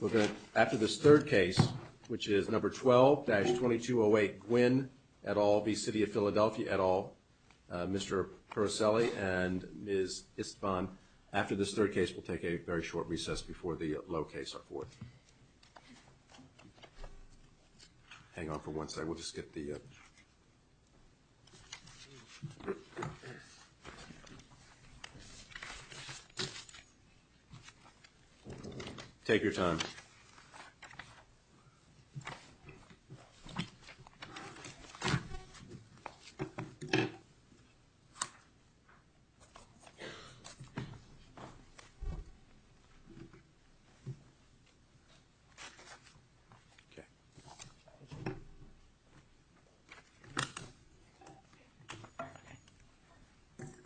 We're going after this third case, which is number 12-2208 Gwynn et al. v. City of Philadelphia et al. Mr. Purcelli and Ms. Istvan. After this third case, we'll take a very short recess before the low case are forth. Hang on for one second. We'll just get the Take your time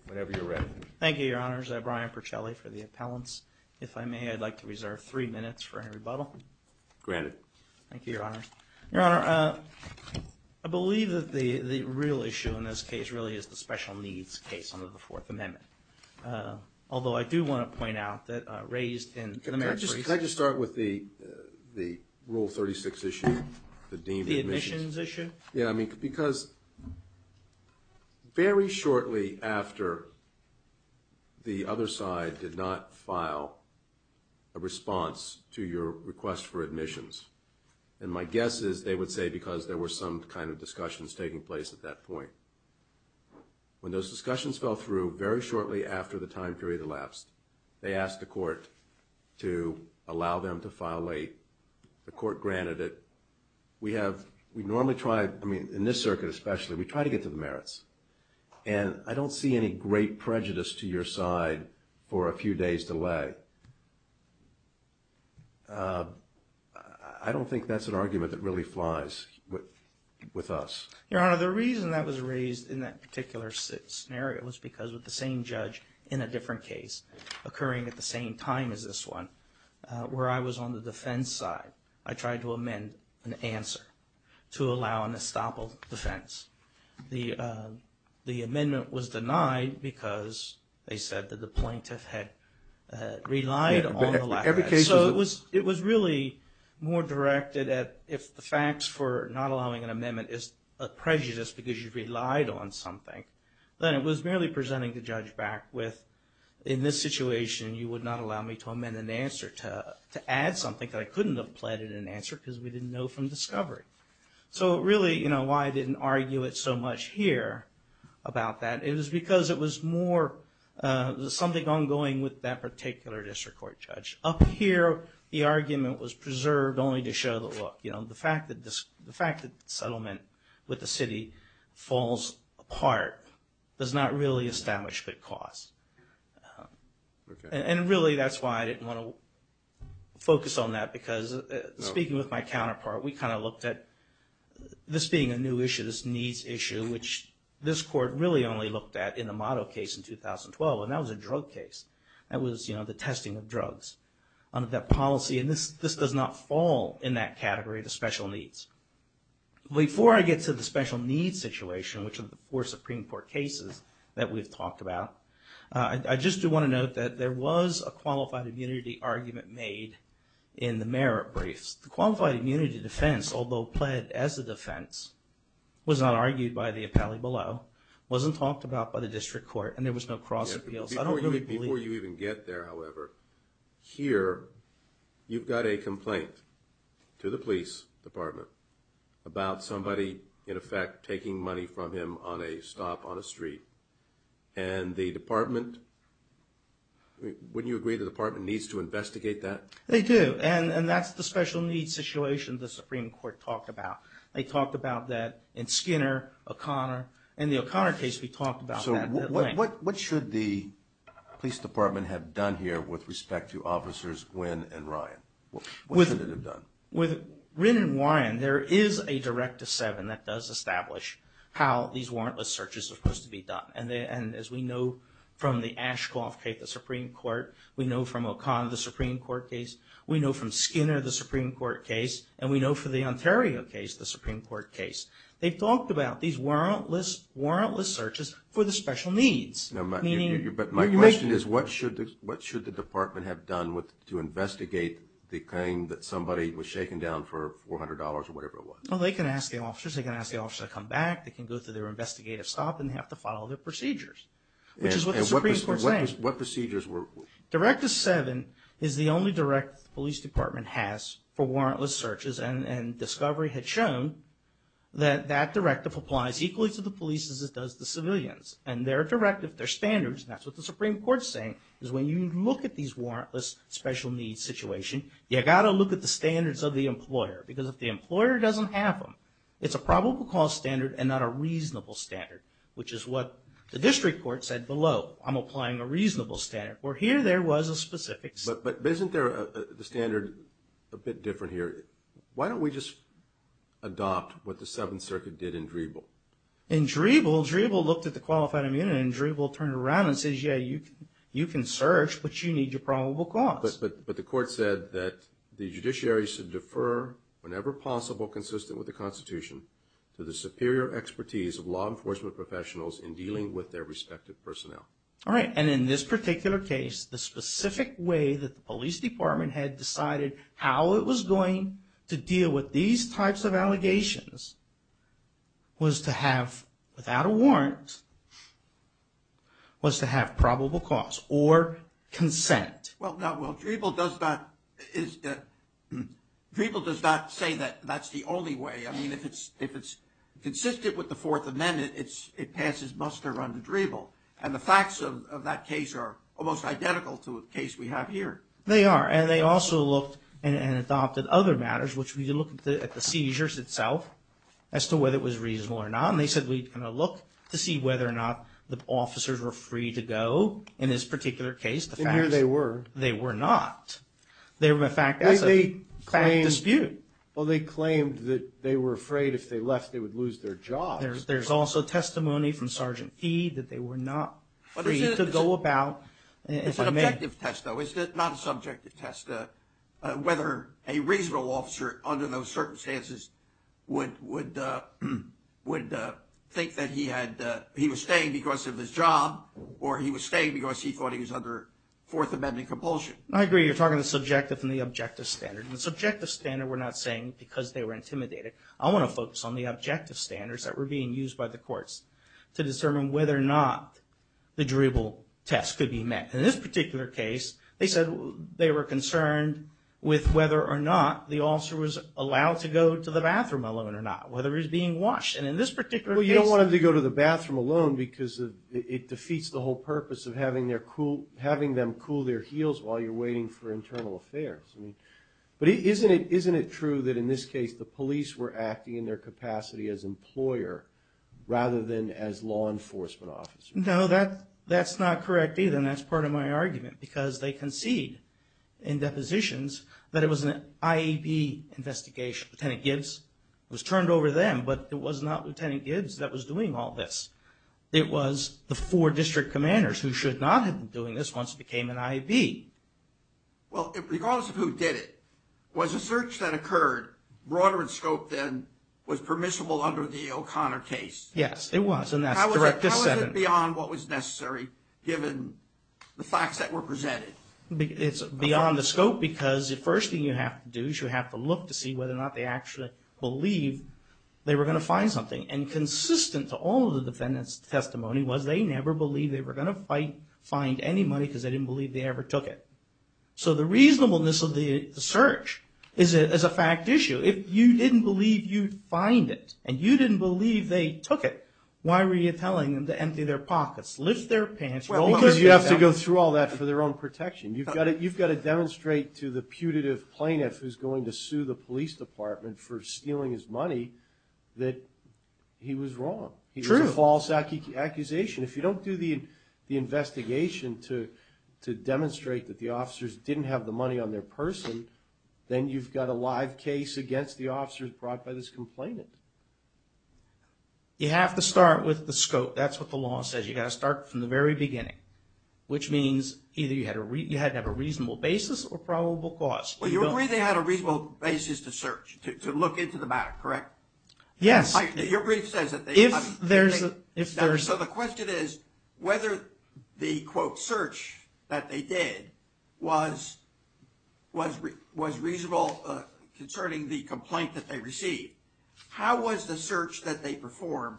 Whenever you're ready, thank you your honors I'm Brian Purcelli for the appellants. If I may, I'd like to reserve three minutes for a rebuttal Granted. Thank you, your honor. Your honor. I Believe that the the real issue in this case really is the special needs case under the Fourth Amendment Although I do want to point out that raised in the marriage. I just start with the the rule 36 issue Yeah, I mean because Very shortly after The other side did not file a Response to your request for admissions and my guess is they would say because there were some kind of discussions taking place at that point When those discussions fell through very shortly after the time period elapsed they asked the court To allow them to file late the court granted it We have we normally try I mean in this circuit, especially we try to get to the merits And I don't see any great prejudice to your side for a few days delay I Don't think that's an argument that really flies With us your honor. The reason that was raised in that particular scenario was because with the same judge in a different case Occurring at the same time as this one Where I was on the defense side, I tried to amend an answer to allow an estoppel defense The The amendment was denied because they said that the plaintiff had relied So it was it was really More directed at if the facts for not allowing an amendment is a prejudice because you've relied on something Then it was merely presenting the judge back with in this situation You would not allow me to amend an answer to to add something that I couldn't have planted an answer because we didn't know from It's so much here about that. It was because it was more Something ongoing with that particular district court judge up here The argument was preserved only to show that look, you know, the fact that this the fact that settlement with the city falls Apart does not really establish good cause And really that's why I didn't want to focus on that because Speaking with my counterpart. We kind of looked at This being a new issue this needs issue Which this court really only looked at in the model case in 2012 and that was a drug case That was you know, the testing of drugs under that policy and this this does not fall in that category to special needs Before I get to the special needs situation, which of the four Supreme Court cases that we've talked about I just do want to note that there was a qualified immunity argument made in The merit briefs the qualified immunity defense, although pled as the defense Was not argued by the appellee below wasn't talked about by the district court and there was no cross-appeals I don't really before you even get there. However here You've got a complaint to the police department about somebody in effect taking money from him on a stop on a street and the department Wouldn't you agree the department needs to investigate that they do and and that's the special needs situation the Supreme Court talked about they talked about that in Skinner O'Connor and the O'Connor case we talked about so what what should the Police department have done here with respect to officers when and Ryan With it have done with written wine There is a direct to seven that does establish how these warrantless searches are supposed to be done And then as we know from the Ashcroft Kate the Supreme Court, we know from O'Connor the Supreme Court case We know from Skinner the Supreme Court case and we know for the Ontario case the Supreme Court case They've talked about these warrantless warrantless searches for the special needs But my question is what should what should the department have done with to investigate? The claim that somebody was shaken down for $400 or whatever it was. Well, they can ask the officers Come back they can go through their investigative stop and have to follow their procedures What procedures were Directive seven is the only direct police department has for warrantless searches and and discovery had shown That that directive applies equally to the police as it does the civilians and their directive their standards That's what the Supreme Court saying is when you look at these warrantless special needs situation You gotta look at the standards of the employer because if the employer doesn't have them It's a probable cause standard and not a reasonable standard, which is what the district court said below I'm applying a reasonable standard or here. There was a specific but but isn't there the standard a bit different here? Why don't we just? Adopt what the Seventh Circuit did in Dribble in Dribble Dribble looked at the qualified immunity will turn around and says yeah You can search but you need your probable cause but but the court said that the judiciary should defer Whenever possible consistent with the Constitution to the superior expertise of law enforcement professionals in dealing with their respective personnel All right And in this particular case the specific way that the police department had decided how it was going To deal with these types of allegations Was to have without a warrant Was to have probable cause or consent well, no, well people does not is People does not say that that's the only way I mean if it's if it's Consistent with the Fourth Amendment It's it passes muster run to Dribble and the facts of that case are almost identical to a case We have here they are and they also looked and adopted other matters Which we look at the seizures itself as to whether it was reasonable or not And they said we kind of look to see whether or not the officers were free to go in this particular case The fact here they were they were not They were in fact, that's a claim dispute. Well, they claimed that they were afraid if they left they would lose their job There's also testimony from sergeant feed that they were not free to go about Whether a reasonable officer under those circumstances would would Would think that he had he was staying because of his job or he was staying because he thought he was under Fourth Amendment compulsion. I agree. You're talking the subjective from the objective standard the subjective standard We're not saying because they were intimidated I want to focus on the objective standards that were being used by the courts to determine whether or not The Dribble test could be met in this particular case They said they were concerned With whether or not the officer was allowed to go to the bathroom alone or not whether he's being washed and in this particular you don't want him to go to the bathroom alone because It defeats the whole purpose of having their cool having them cool their heels while you're waiting for internal affairs I mean, but isn't it isn't it true that in this case the police were acting in their capacity as employer Rather than as law enforcement officer Know that that's not correct either and that's part of my argument because they concede in Depositions that it was an IEP Investigation lieutenant Gibbs was turned over them, but it was not lieutenant Gibbs that was doing all this It was the four district commanders who should not have been doing this once it became an IEP Well, it regardless of who did it was a search that occurred Broader and scope then was permissible under the O'Connor case. Yes, it was and that's correct This is beyond what was necessary given the facts that were presented It's beyond the scope because the first thing you have to do is you have to look to see whether or not they actually believe They were gonna find something and consistent to all the defendants testimony was they never believed they were gonna fight Find any money because they didn't believe they ever took it So the reasonableness of the search is it as a fact issue if you didn't believe you'd find it and you didn't believe they Took it. Why were you telling them to empty their pockets lift their pants? Well, because you have to go through all that for their own protection You've got it. You've got to demonstrate to the putative plaintiff who's going to sue the police department for stealing his money that He was wrong. He's a false accusation if you don't do the Investigation to to demonstrate that the officers didn't have the money on their person Then you've got a live case against the officers brought by this complainant You have to start with the scope. That's what the law says. You got to start from the very beginning Which means either you had to read you had to have a reasonable basis or probable cause Well, you're really had a reasonable basis to search to look into the matter, correct? Yes, your brief says it if there's a if there's so the question is whether the quote search that they did was Was was reasonable Concerning the complaint that they received. How was the search that they perform?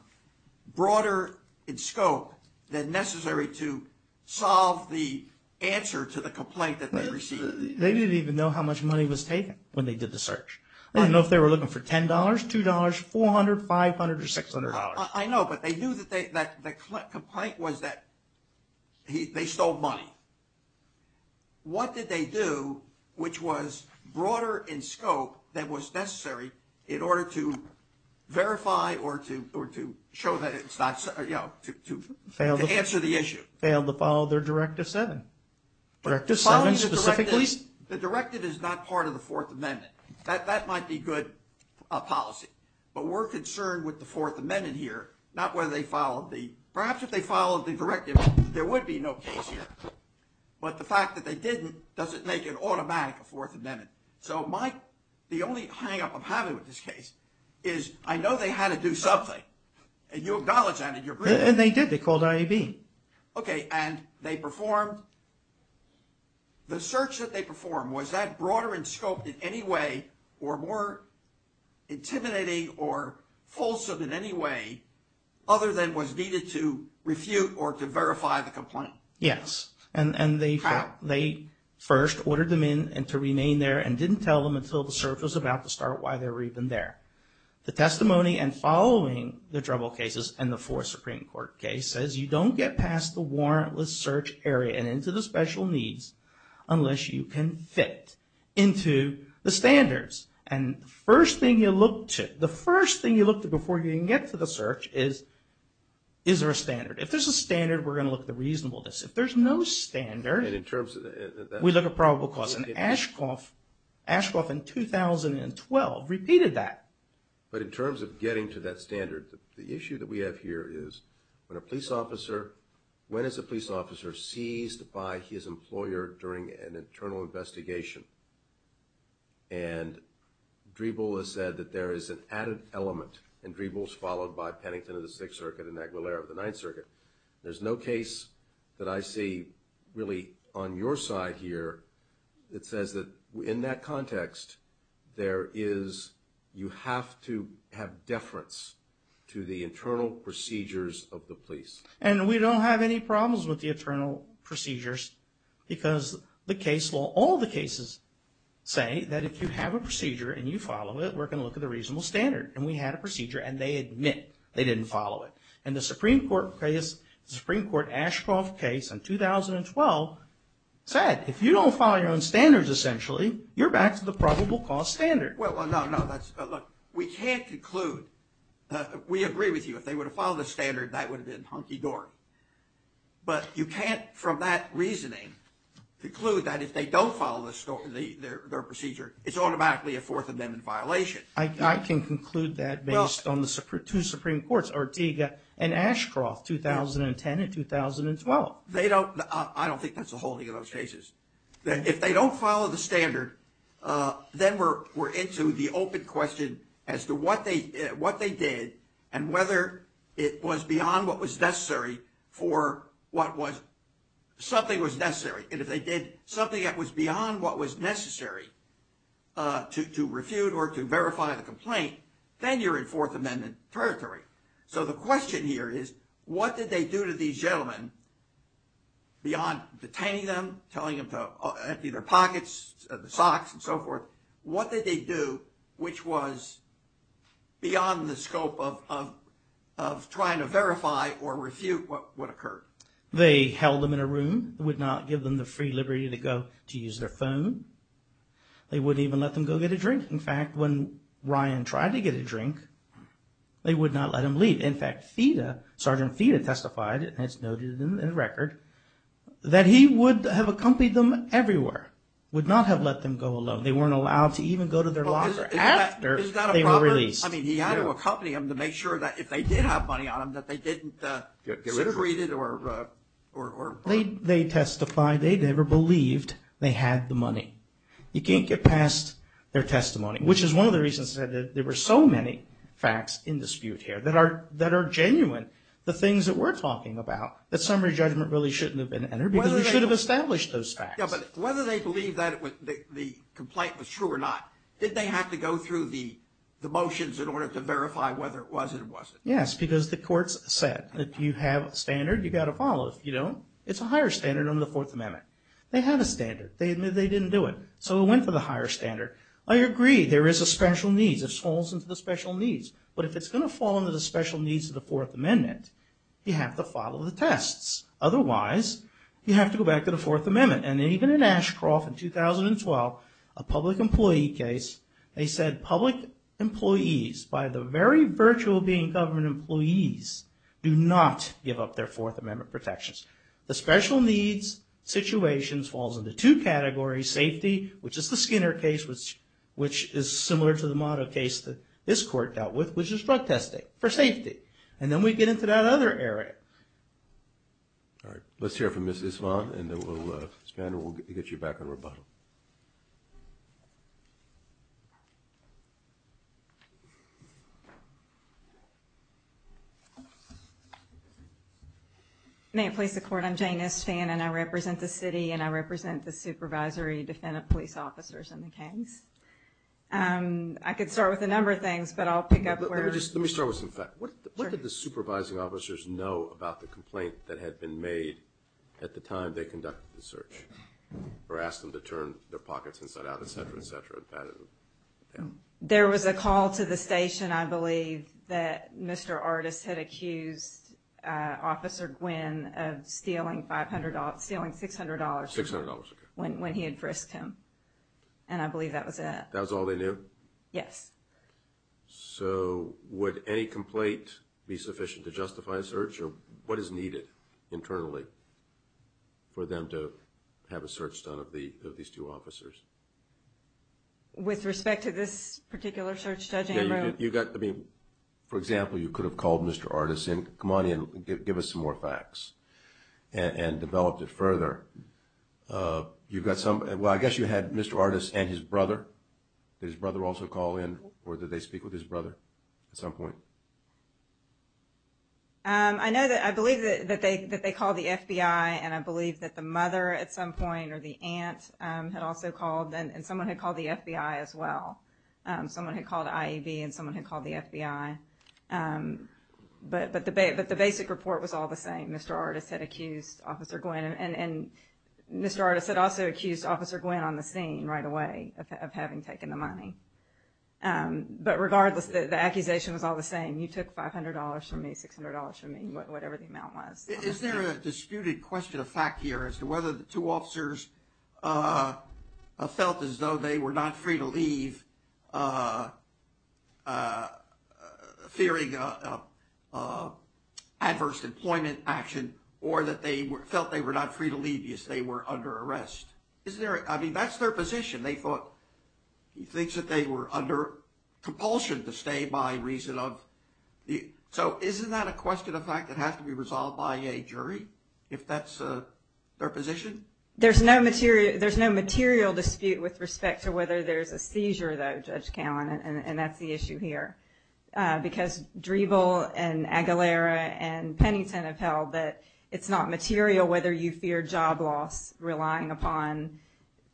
broader in scope than necessary to Solve the answer to the complaint that they receive They didn't even know how much money was taken when they did the search I don't know if they were looking for ten dollars two dollars four hundred five hundred or six hundred dollars I know but they knew that they that the complaint was that He they stole money What did they do which was broader in scope that was necessary in order to Verify or to or to show that it's not you know to answer the issue failed to follow their directive seven Directive seven specifically the directive is not part of the Fourth Amendment that that might be good a policy But we're concerned with the Fourth Amendment here. Not whether they followed the perhaps if they followed the directive there would be no case here But the fact that they didn't does it make it automatic a fourth amendment? So my the only hang-up I'm having with this case is I know they had to do something And you acknowledge that in your and they did they called IAB. Okay, and they performed The search that they perform was that broader in scope in any way or more? intimidating or Folsom in any way other than was needed to refute or to verify the complaint Yes and and they They first ordered them in and to remain there and didn't tell them until the search was about to start why they were even there the testimony and following the trouble cases and the four Supreme Court case says you don't get past the warrantless search area and into the special needs unless you can fit into the standards and first thing you look to the first thing you look to before you can get to the search is Is there a standard if there's a standard we're gonna look at the reasonableness if there's no standard in terms We look at probable cause in Ashcroft Ashcroft in 2012 repeated that but in terms of getting to that standard the issue that we have here is when a police officer when as a police officer seized by his employer during an internal investigation and Dribble has said that there is an added element and dribbles followed by Pennington of the Sixth Circuit and Aguilera of the Ninth Circuit There's no case that I see Really on your side here. It says that in that context There is you have to have deference to the internal procedures of the police And we don't have any problems with the internal procedures Because the case law all the cases Say that if you have a procedure and you follow it We're going to look at the reasonable standard and we had a procedure and they admit they didn't follow it and the Supreme Court Case the Supreme Court Ashcroft case in 2012 Said if you don't follow your own standards, essentially, you're back to the probable cause standard. Well, no, no, that's look we can't conclude We agree with you if they would have followed the standard that would have been hunky-dory But you can't from that reasoning Conclude that if they don't follow the store the their procedure, it's automatically a fourth of them in violation I can conclude that based on the Supreme Court's Ortega and Ashcroft 2010 and 2012 they don't I don't think that's the holding of those cases that if they don't follow the standard Then we're we're into the open question as to what they what they did and whether it was beyond what was necessary for what was Something was necessary and if they did something that was beyond what was necessary To refute or to verify the complaint then you're in Fourth Amendment territory So the question here is what did they do to these gentlemen? Beyond detaining them telling him to empty their pockets the socks and so forth. What did they do which was? beyond the scope of Trying to verify or refute what would occur they held them in a room would not give them the free liberty to go to use their phone They wouldn't even let them go get a drink. In fact when Ryan tried to get a drink They would not let him leave in fact FIDA sergeant FIDA testified and it's noted in the record That he would have accompanied them everywhere would not have let them go alone They weren't allowed to even go to their locker after they were released I mean he had to accompany him to make sure that if they did have money on them that they didn't get liberated or They they testified they never believed they had the money You can't get past their testimony, which is one of the reasons that there were so many facts in dispute here that are that are genuine the things that we're talking about that summary judgment really shouldn't have been entered whether They should have established those facts but whether they believe that it was the complaint was true or not did they have to go through the The motions in order to verify whether it was it wasn't yes Because the courts said that you have a standard you got to follow if you don't it's a higher standard under the Fourth Amendment They have a standard they admit they didn't do it. So it went for the higher standard I agree. There is a special needs it falls into the special needs But if it's going to fall into the special needs of the Fourth Amendment, you have to follow the tests Otherwise you have to go back to the Fourth Amendment and even in Ashcroft in 2012 a public employee case they said public Employees by the very virtue of being government employees do not give up their Fourth Amendment protections the special needs Situations falls into two categories safety, which is the Skinner case Which which is similar to the model case that this court dealt with which is drug testing for safety And then we get into that other area All right, let's hear from mrs. Vaughn and then we'll get you back on rebuttal I May have placed the court. I'm Janus fan and I represent the city and I represent the supervisory defendant police officers in the case I could start with a number of things but I'll pick up where just let me start with some fact What did the supervising officers know about the complaint that had been made at the time they conducted the search? Or asked them to turn their pockets inside out, etc, etc No, there was a call to the station, I believe that mr. Artist had accused Officer Gwynn of stealing $500 stealing $600 When when he had frisked him and I believe that was that that was all they knew. Yes So would any complaint be sufficient to justify a search or what is needed internally? For them to have a search done of the of these two officers With respect to this particular search judge. Yeah, you got to be for example, you could have called. Mr Artisan come on in give us some more facts And developed it further You've got some well, I guess you had mr. Artist and his brother His brother also call in or did they speak with his brother at some point? I know that I believe that they that they call the FBI and I believe that the mother at some point or the aunt Had also called and someone had called the FBI as well Someone had called IEB and someone had called the FBI But but the bait but the basic report was all the same mr. Artist had accused officer Gwynn and Mr. Artist had also accused officer Gwynn on the scene right away of having taken the money But regardless the accusation was all the same. You took $500 from me $600 from me But whatever the amount was is there a disputed question of fact here as to whether the two officers? I felt as though they were not free to leave Fearing Adverse employment action or that they were felt they were not free to leave you as they were under arrest Is there I mean, that's their position they thought He thinks that they were under compulsion to stay by reason of The so isn't that a question of fact that has to be resolved by a jury if that's a their position There's no material. There's no material dispute with respect to whether there's a seizure though judge Callan, and that's the issue here Because dribble and Aguilera and Pennington have held that it's not material whether you fear job loss relying upon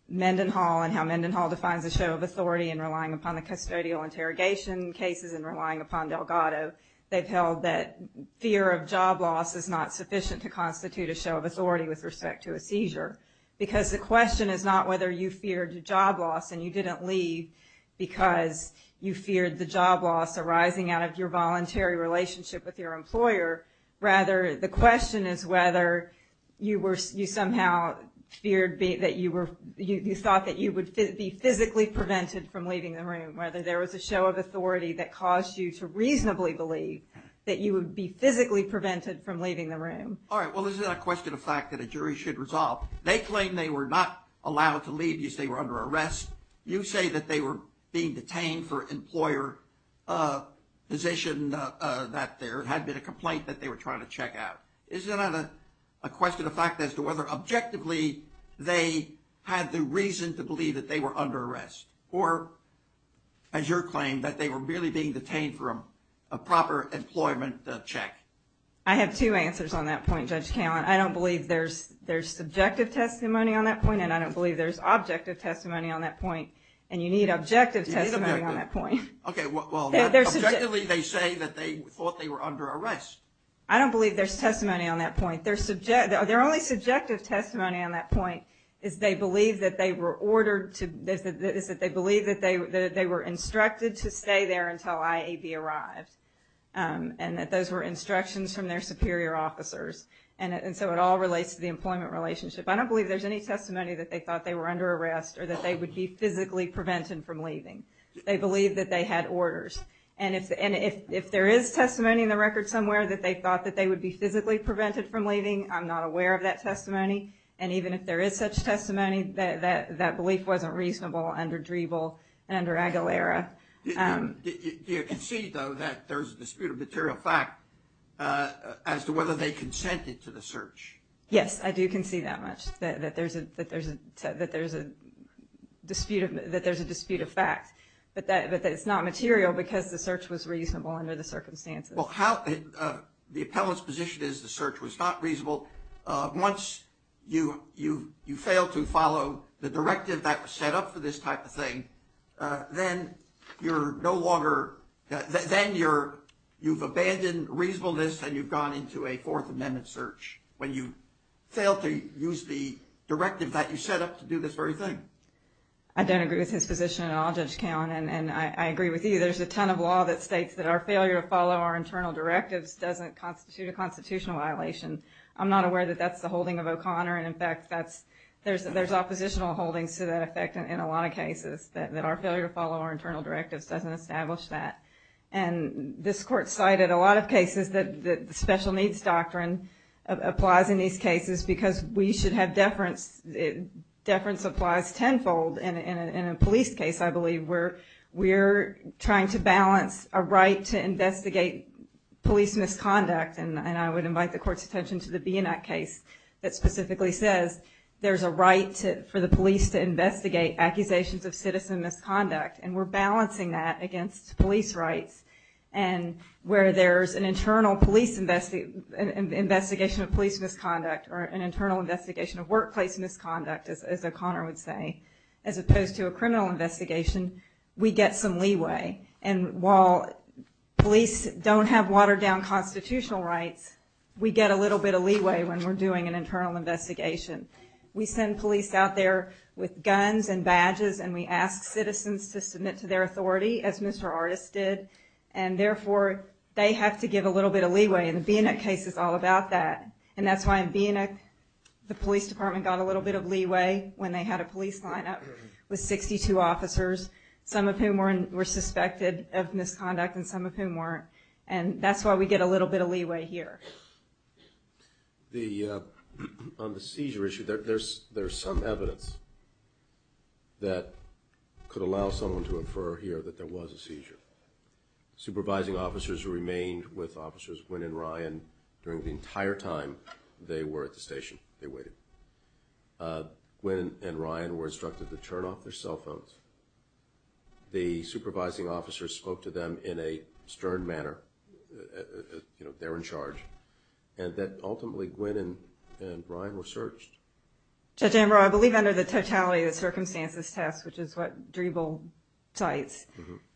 Mendenhall and how Mendenhall defines a show of authority and relying upon the custodial interrogation cases and relying upon Delgado They've held that fear of job loss is not sufficient to constitute a show of authority with respect to a seizure Because the question is not whether you feared to job loss and you didn't leave Because you feared the job loss arising out of your voluntary relationship with your employer Rather the question is whether you were you somehow Feared be that you were you thought that you would be physically prevented from leaving the room whether there was a show of authority That caused you to reasonably believe that you would be physically prevented from leaving the room All right Well, this is a question of fact that a jury should resolve they claim they were not allowed to leave you stay were under arrest You say that they were being detained for employer? Position that there had been a complaint that they were trying to check out is there not a question of fact as to whether objectively they had the reason to believe that they were under arrest or As your claim that they were really being detained for a proper employment check I have two answers on that point judge Callan I don't believe there's there's subjective testimony on that point and I don't believe there's objective testimony on that point and you need objective Testimony on that point. Okay. Well, there's a generally they say that they thought they were under arrest I don't believe there's testimony on that point They're subject their only subjective testimony on that point is they believe that they were ordered to this Is that they believe that they were instructed to stay there until I a be arrived? And that those were instructions from their superior officers and and so it all relates to the employment relationship I don't believe there's any testimony that they thought they were under arrest or that they would be physically prevented from leaving They believe that they had orders and if and if if there is testimony in the record somewhere that they thought that they would be Physically prevented from leaving I'm not aware of that testimony And even if there is such testimony that that that belief wasn't reasonable under Dribble and under Aguilera You can see though that there's a dispute of material fact As to whether they consented to the search. Yes. I do can see that much that there's a that there's a that there's a Dispute of that there's a dispute of fact, but that but that's not material because the search was reasonable under the circumstances. Well, how The appellants position is the search was not reasonable Once you you you fail to follow the directive that was set up for this type of thing Then you're no longer Then you're you've abandoned reasonableness and you've gone into a Fourth Amendment search when you fail to use the Directive that you set up to do this very thing. I Don't agree with his position and I'll just count and I agree with you There's a ton of law that states that our failure to follow our internal directives doesn't constitute a constitutional violation I'm not aware that that's the holding of O'Connor And in fact, that's there's there's oppositional holdings to that effect in a lot of cases that our failure to follow our internal directives doesn't establish that and This court cited a lot of cases that the special needs doctrine Applies in these cases because we should have deference Deference applies tenfold and in a police case. I believe we're we're trying to balance a right to investigate Police misconduct and I would invite the court's attention to the being that case that specifically says there's a right for the police to investigate accusations of citizen misconduct and we're balancing that against police rights and where there's an internal police invest investigation of police misconduct or an internal investigation of workplace misconduct as O'Connor would say as opposed to a criminal investigation we get some leeway and while Police don't have watered-down Constitutional rights we get a little bit of leeway when we're doing an internal investigation We send police out there with guns and badges and we ask citizens to submit to their authority as mr Artists did and therefore they have to give a little bit of leeway and being that case is all about that And that's why I'm being a the police department got a little bit of leeway when they had a police lineup with 62 officers Some of whom weren't were suspected of misconduct and some of whom weren't and that's why we get a little bit of leeway here the On the seizure issue that there's there's some evidence That could allow someone to infer here that there was a seizure Supervising officers remained with officers when and Ryan during the entire time they were at the station. They waited When and Ryan were instructed to turn off their cell phones The supervising officers spoke to them in a stern manner You know, they're in charge and that ultimately Gwynn and Ryan were searched Judge Amber, I believe under the totality of the circumstances test, which is what dribble sites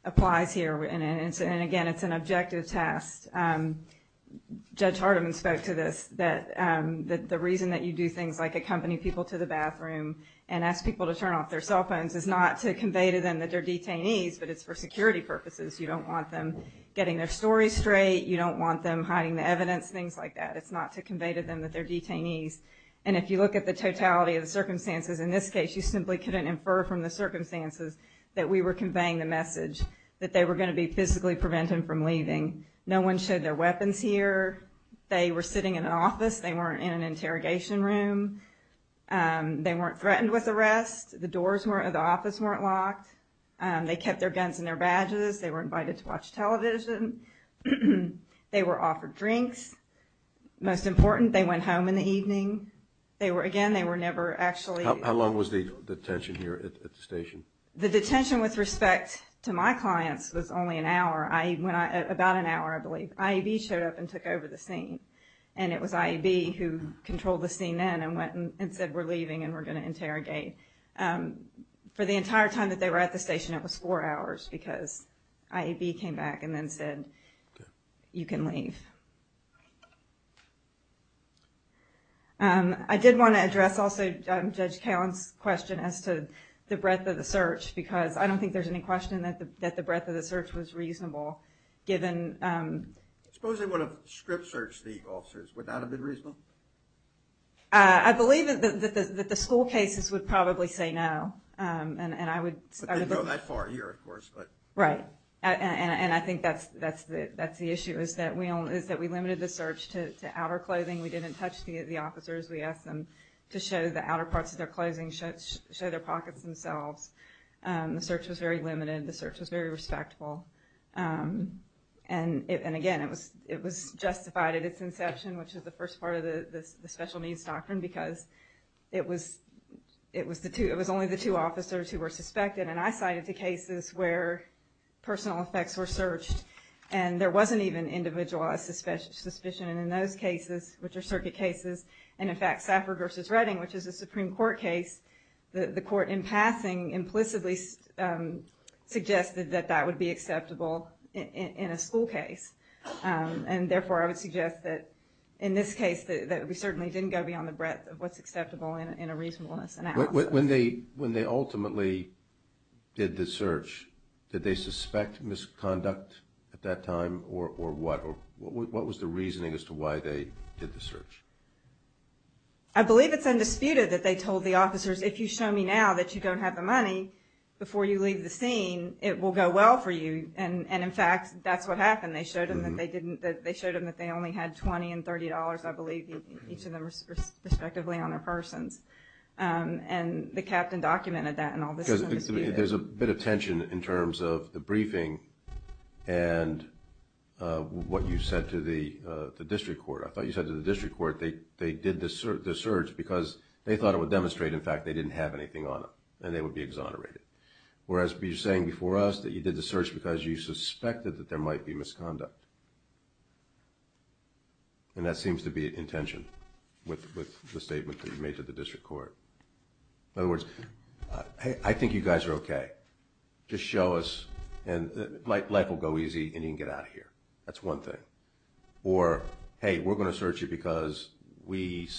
Applies here and it's and again, it's an objective test Judge Hardeman spoke to this that That the reason that you do things like accompany people to the bathroom and ask people to turn off their cell phones is not to Convey to them that they're detainees, but it's for security purposes. You don't want them getting their story straight You don't want them hiding the evidence things like that It's not to convey to them that they're detainees and if you look at the totality of the circumstances in this case You simply couldn't infer from the circumstances that we were conveying the message that they were going to be physically preventing from leaving No one showed their weapons here. They were sitting in an office. They weren't in an interrogation room They weren't threatened with arrest the doors were at the office weren't locked They kept their guns and their badges. They were invited to watch television They were offered drinks Most important they went home in the evening They were again They were never actually how long was the detention here at the station the detention with respect to my clients was only an hour I went about an hour IEB showed up and took over the scene and it was IEB who Controlled the scene then and went and said we're leaving and we're going to interrogate For the entire time that they were at the station. It was four hours because IEB came back and then said you can leave I did want to address also judge Callan's question as to the breadth of the search because I don't think there's any question that the That the breadth of the search was reasonable Given Supposing what a script search the officers without a bit reasonable. I Believe that the school cases would probably say no and and I would go that far here Of course, but right and and I think that's that's that's the issue Is that we only is that we limited the search to outer clothing. We didn't touch the officers We asked them to show the outer parts of their clothing should show their pockets themselves The search was very limited. The search was very respectful and it and again, it was it was justified at its inception, which is the first part of the special-needs doctrine because it was it was the two it was only the two officers who were suspected and I cited the cases where Personal effects were searched and there wasn't even individualized suspicion suspicion in those cases Which are circuit cases and in fact Safra versus Redding, which is a Supreme Court case the the court in passing implicitly Suggested that that would be acceptable in a school case And therefore I would suggest that in this case that we certainly didn't go beyond the breadth of what's acceptable in a reasonableness when they when they ultimately Did the search did they suspect misconduct at that time or or what? What was the reasoning as to why they did the search? I? Believe it's undisputed that they told the officers if you show me now that you don't have the money Before you leave the scene it will go well for you. And and in fact, that's what happened They showed him that they didn't that they showed him that they only had 20 and $30. I believe each of them respectively on their persons and the captain documented that and all this there's a bit of tension in terms of the briefing and What you said to the District Court, I thought you said to the district court They they did this or the search because they thought it would demonstrate in fact They didn't have anything on them and they would be exonerated Whereas be you're saying before us that you did the search because you suspected that there might be misconduct And that seems to be intention with the statement that you made to the district court in other words Hey, I think you guys are okay Just show us and like life will go easy and you can get out of here. That's one thing or Hey, we're going to search you because we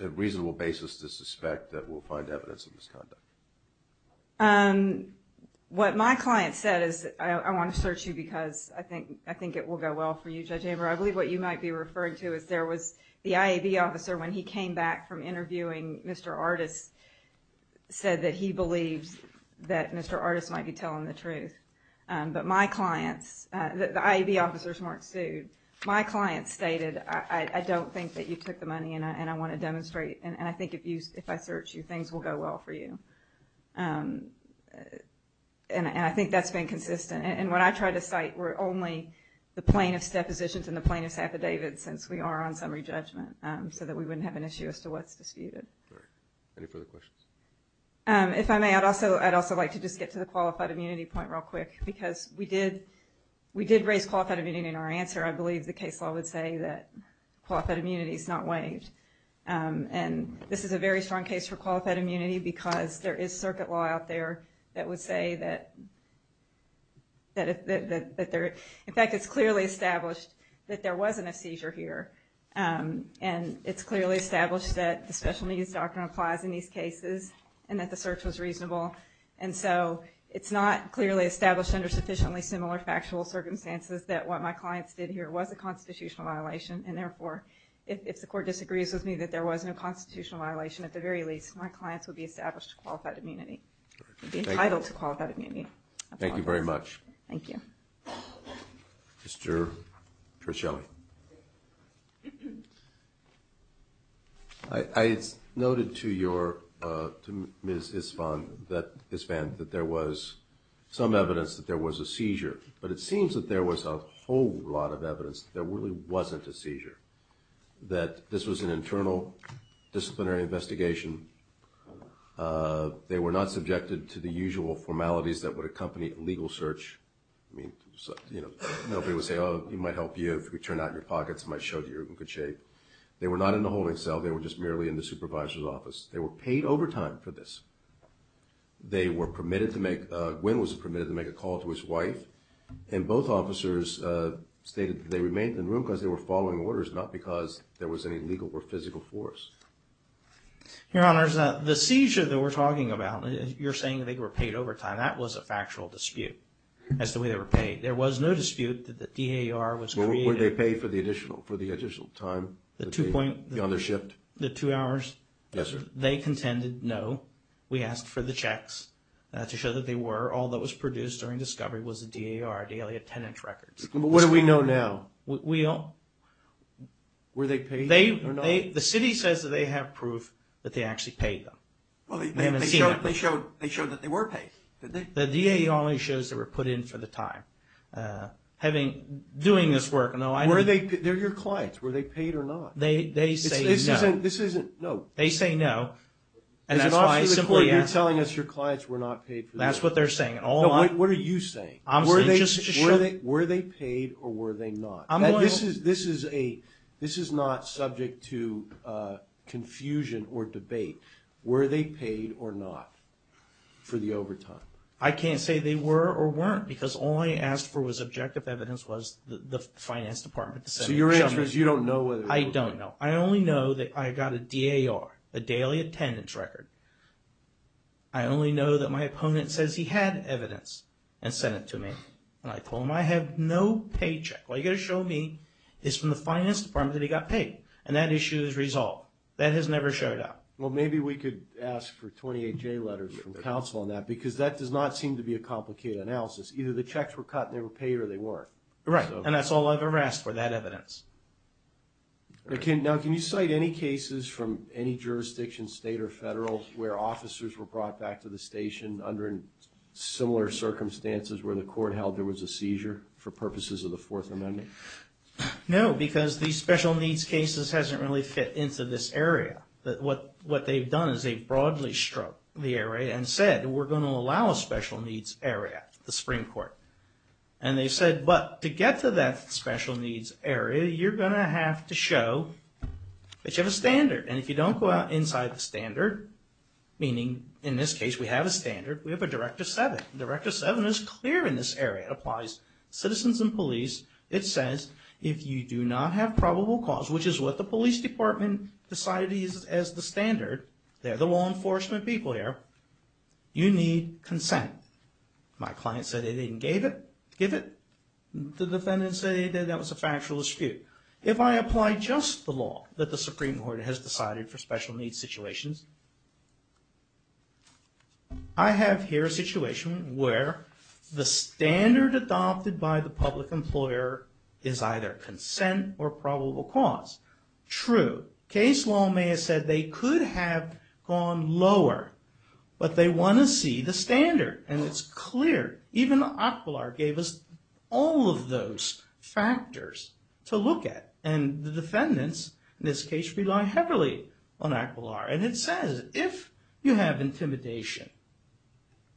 have reasonable basis to suspect that we'll find evidence of misconduct What my client said is I want to search you because I think I think it will go well for you judge Amber I believe what you might be referring to is there was the IAB officer when he came back from interviewing. Mr. Artis Said that he believes that mr. Artis might be telling the truth But my clients that the IAB officers Mark sued my clients stated I don't think that you took the money and I want to demonstrate and I think if you if I search you things will go well for you And I think that's been consistent and what I tried to cite were only The plaintiffs depositions in the plaintiffs affidavits since we are on summary judgment So that we wouldn't have an issue as to what's disputed Any further questions If I may I'd also I'd also like to just get to the qualified immunity point real quick because we did We did raise qualified immunity in our answer. I believe the case law would say that Qualified immunity is not waived and this is a very strong case for qualified immunity because there is circuit law out there that would say that That if that there in fact, it's clearly established that there wasn't a seizure here And it's clearly established that the special needs doctrine applies in these cases and that the search was reasonable And so it's not clearly established under sufficiently similar factual circumstances that what my clients did here was a constitutional Violation and therefore if the court disagrees with me that there wasn't a constitutional violation at the very least My clients would be established to qualified immunity Entitled to call that immunity. Thank you very much. Thank you Mr. Trischelli I Noted to your respond that this band that there was Some evidence that there was a seizure, but it seems that there was a whole lot of evidence. There really wasn't a seizure That this was an internal disciplinary investigation They were not subjected to the usual formalities that would accompany a legal search I mean, you know, nobody would say oh you might help you if we turn out your pockets I showed you in good shape. They were not in the holding cell. They were just merely in the supervisor's office They were paid overtime for this They were permitted to make when was permitted to make a call to his wife and both officers Stated they remained in room because they were following orders not because there was any legal or physical force Your honors that the seizure that we're talking about you're saying they were paid overtime That was a factual dispute as the way they were paid. There was no dispute that the DAR was They pay for the additional for the additional time the two point the other shift the two hours They contended. No, we asked for the checks To show that they were all that was produced during discovery was a DAR daily attendance records. What do we know now? We all Were they paid they the city says that they have proof that they actually paid them They showed they showed that they were paid the DA only shows that were put in for the time Having doing this work. No, I were they they're your clients were they paid or not? They say this isn't no they say no and that's why I simply I'm telling us your clients were not paid That's what they're saying. Oh, what are you saying? I'm where they just show that were they paid or were they not? I mean, this is this is a this is not subject to Confusion or debate were they paid or not? For the overtime I can't say they were or weren't because all I asked for was objective evidence was the finance department So your answer is you don't know what I don't know. I only know that I got a DAR a daily attendance record. I Only know that my opponent says he had evidence and sent it to me and I told him I have no paycheck Well, you gotta show me it's from the finance department that he got paid and that issue is resolved that has never showed up Well, maybe we could ask for 28 J letters from the council on that because that does not seem to be a complicated analysis Either the checks were cut and they were paid or they weren't right and that's all I've ever asked for that evidence Okay. Now, can you cite any cases from any jurisdiction state or federal where officers were brought back to the station under? Similar circumstances where the court held there was a seizure for purposes of the Fourth Amendment No, because these special needs cases hasn't really fit into this area that what what they've done is a broadly struck the area and said we're going to allow a special needs area the Supreme Court and They said but to get to that special needs area. You're gonna have to show That you have a standard and if you don't go out inside the standard Meaning in this case, we have a standard We have a director seven director seven is clear in this area applies citizens and police It says if you do not have probable cause which is what the police department Decided he's as the standard. They're the law enforcement people here You need consent My client said they didn't gave it give it The defendant said that was a factual dispute if I apply just the law that the Supreme Court has decided for special needs situations. I have here a situation where The standard adopted by the public employer is either consent or probable cause True case law may have said they could have gone lower But they want to see the standard and it's clear even aquiline gave us all of those factors to look at and the defendants in this case rely heavily on aquiline and it says if You have intimidation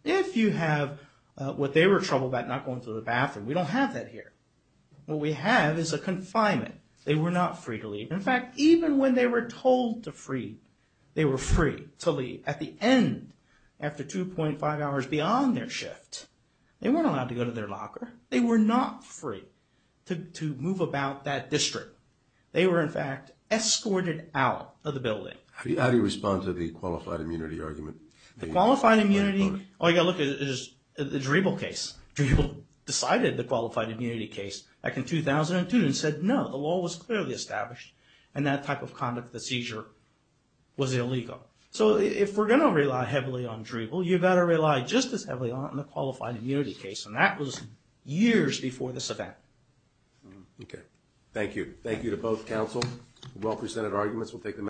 If you have what they were trouble about not going to the bathroom. We don't have that here What we have is a confinement. They were not free to leave In fact, even when they were told to free they were free to leave at the end After 2.5 hours beyond their shift. They weren't allowed to go to their locker They were not free to move about that district. They were in fact Escorted out of the building. How do you respond to the qualified immunity argument the qualified immunity? Oh, yeah Look at the dribble case to people decided the qualified immunity case back in 2002 and said no The law was clearly established and that type of conduct the seizure Was illegal so if we're gonna rely heavily on dribble You better rely just as heavily on the qualified immunity case and that was years before this event Okay, thank you thank you to both counsel well presented arguments we'll take them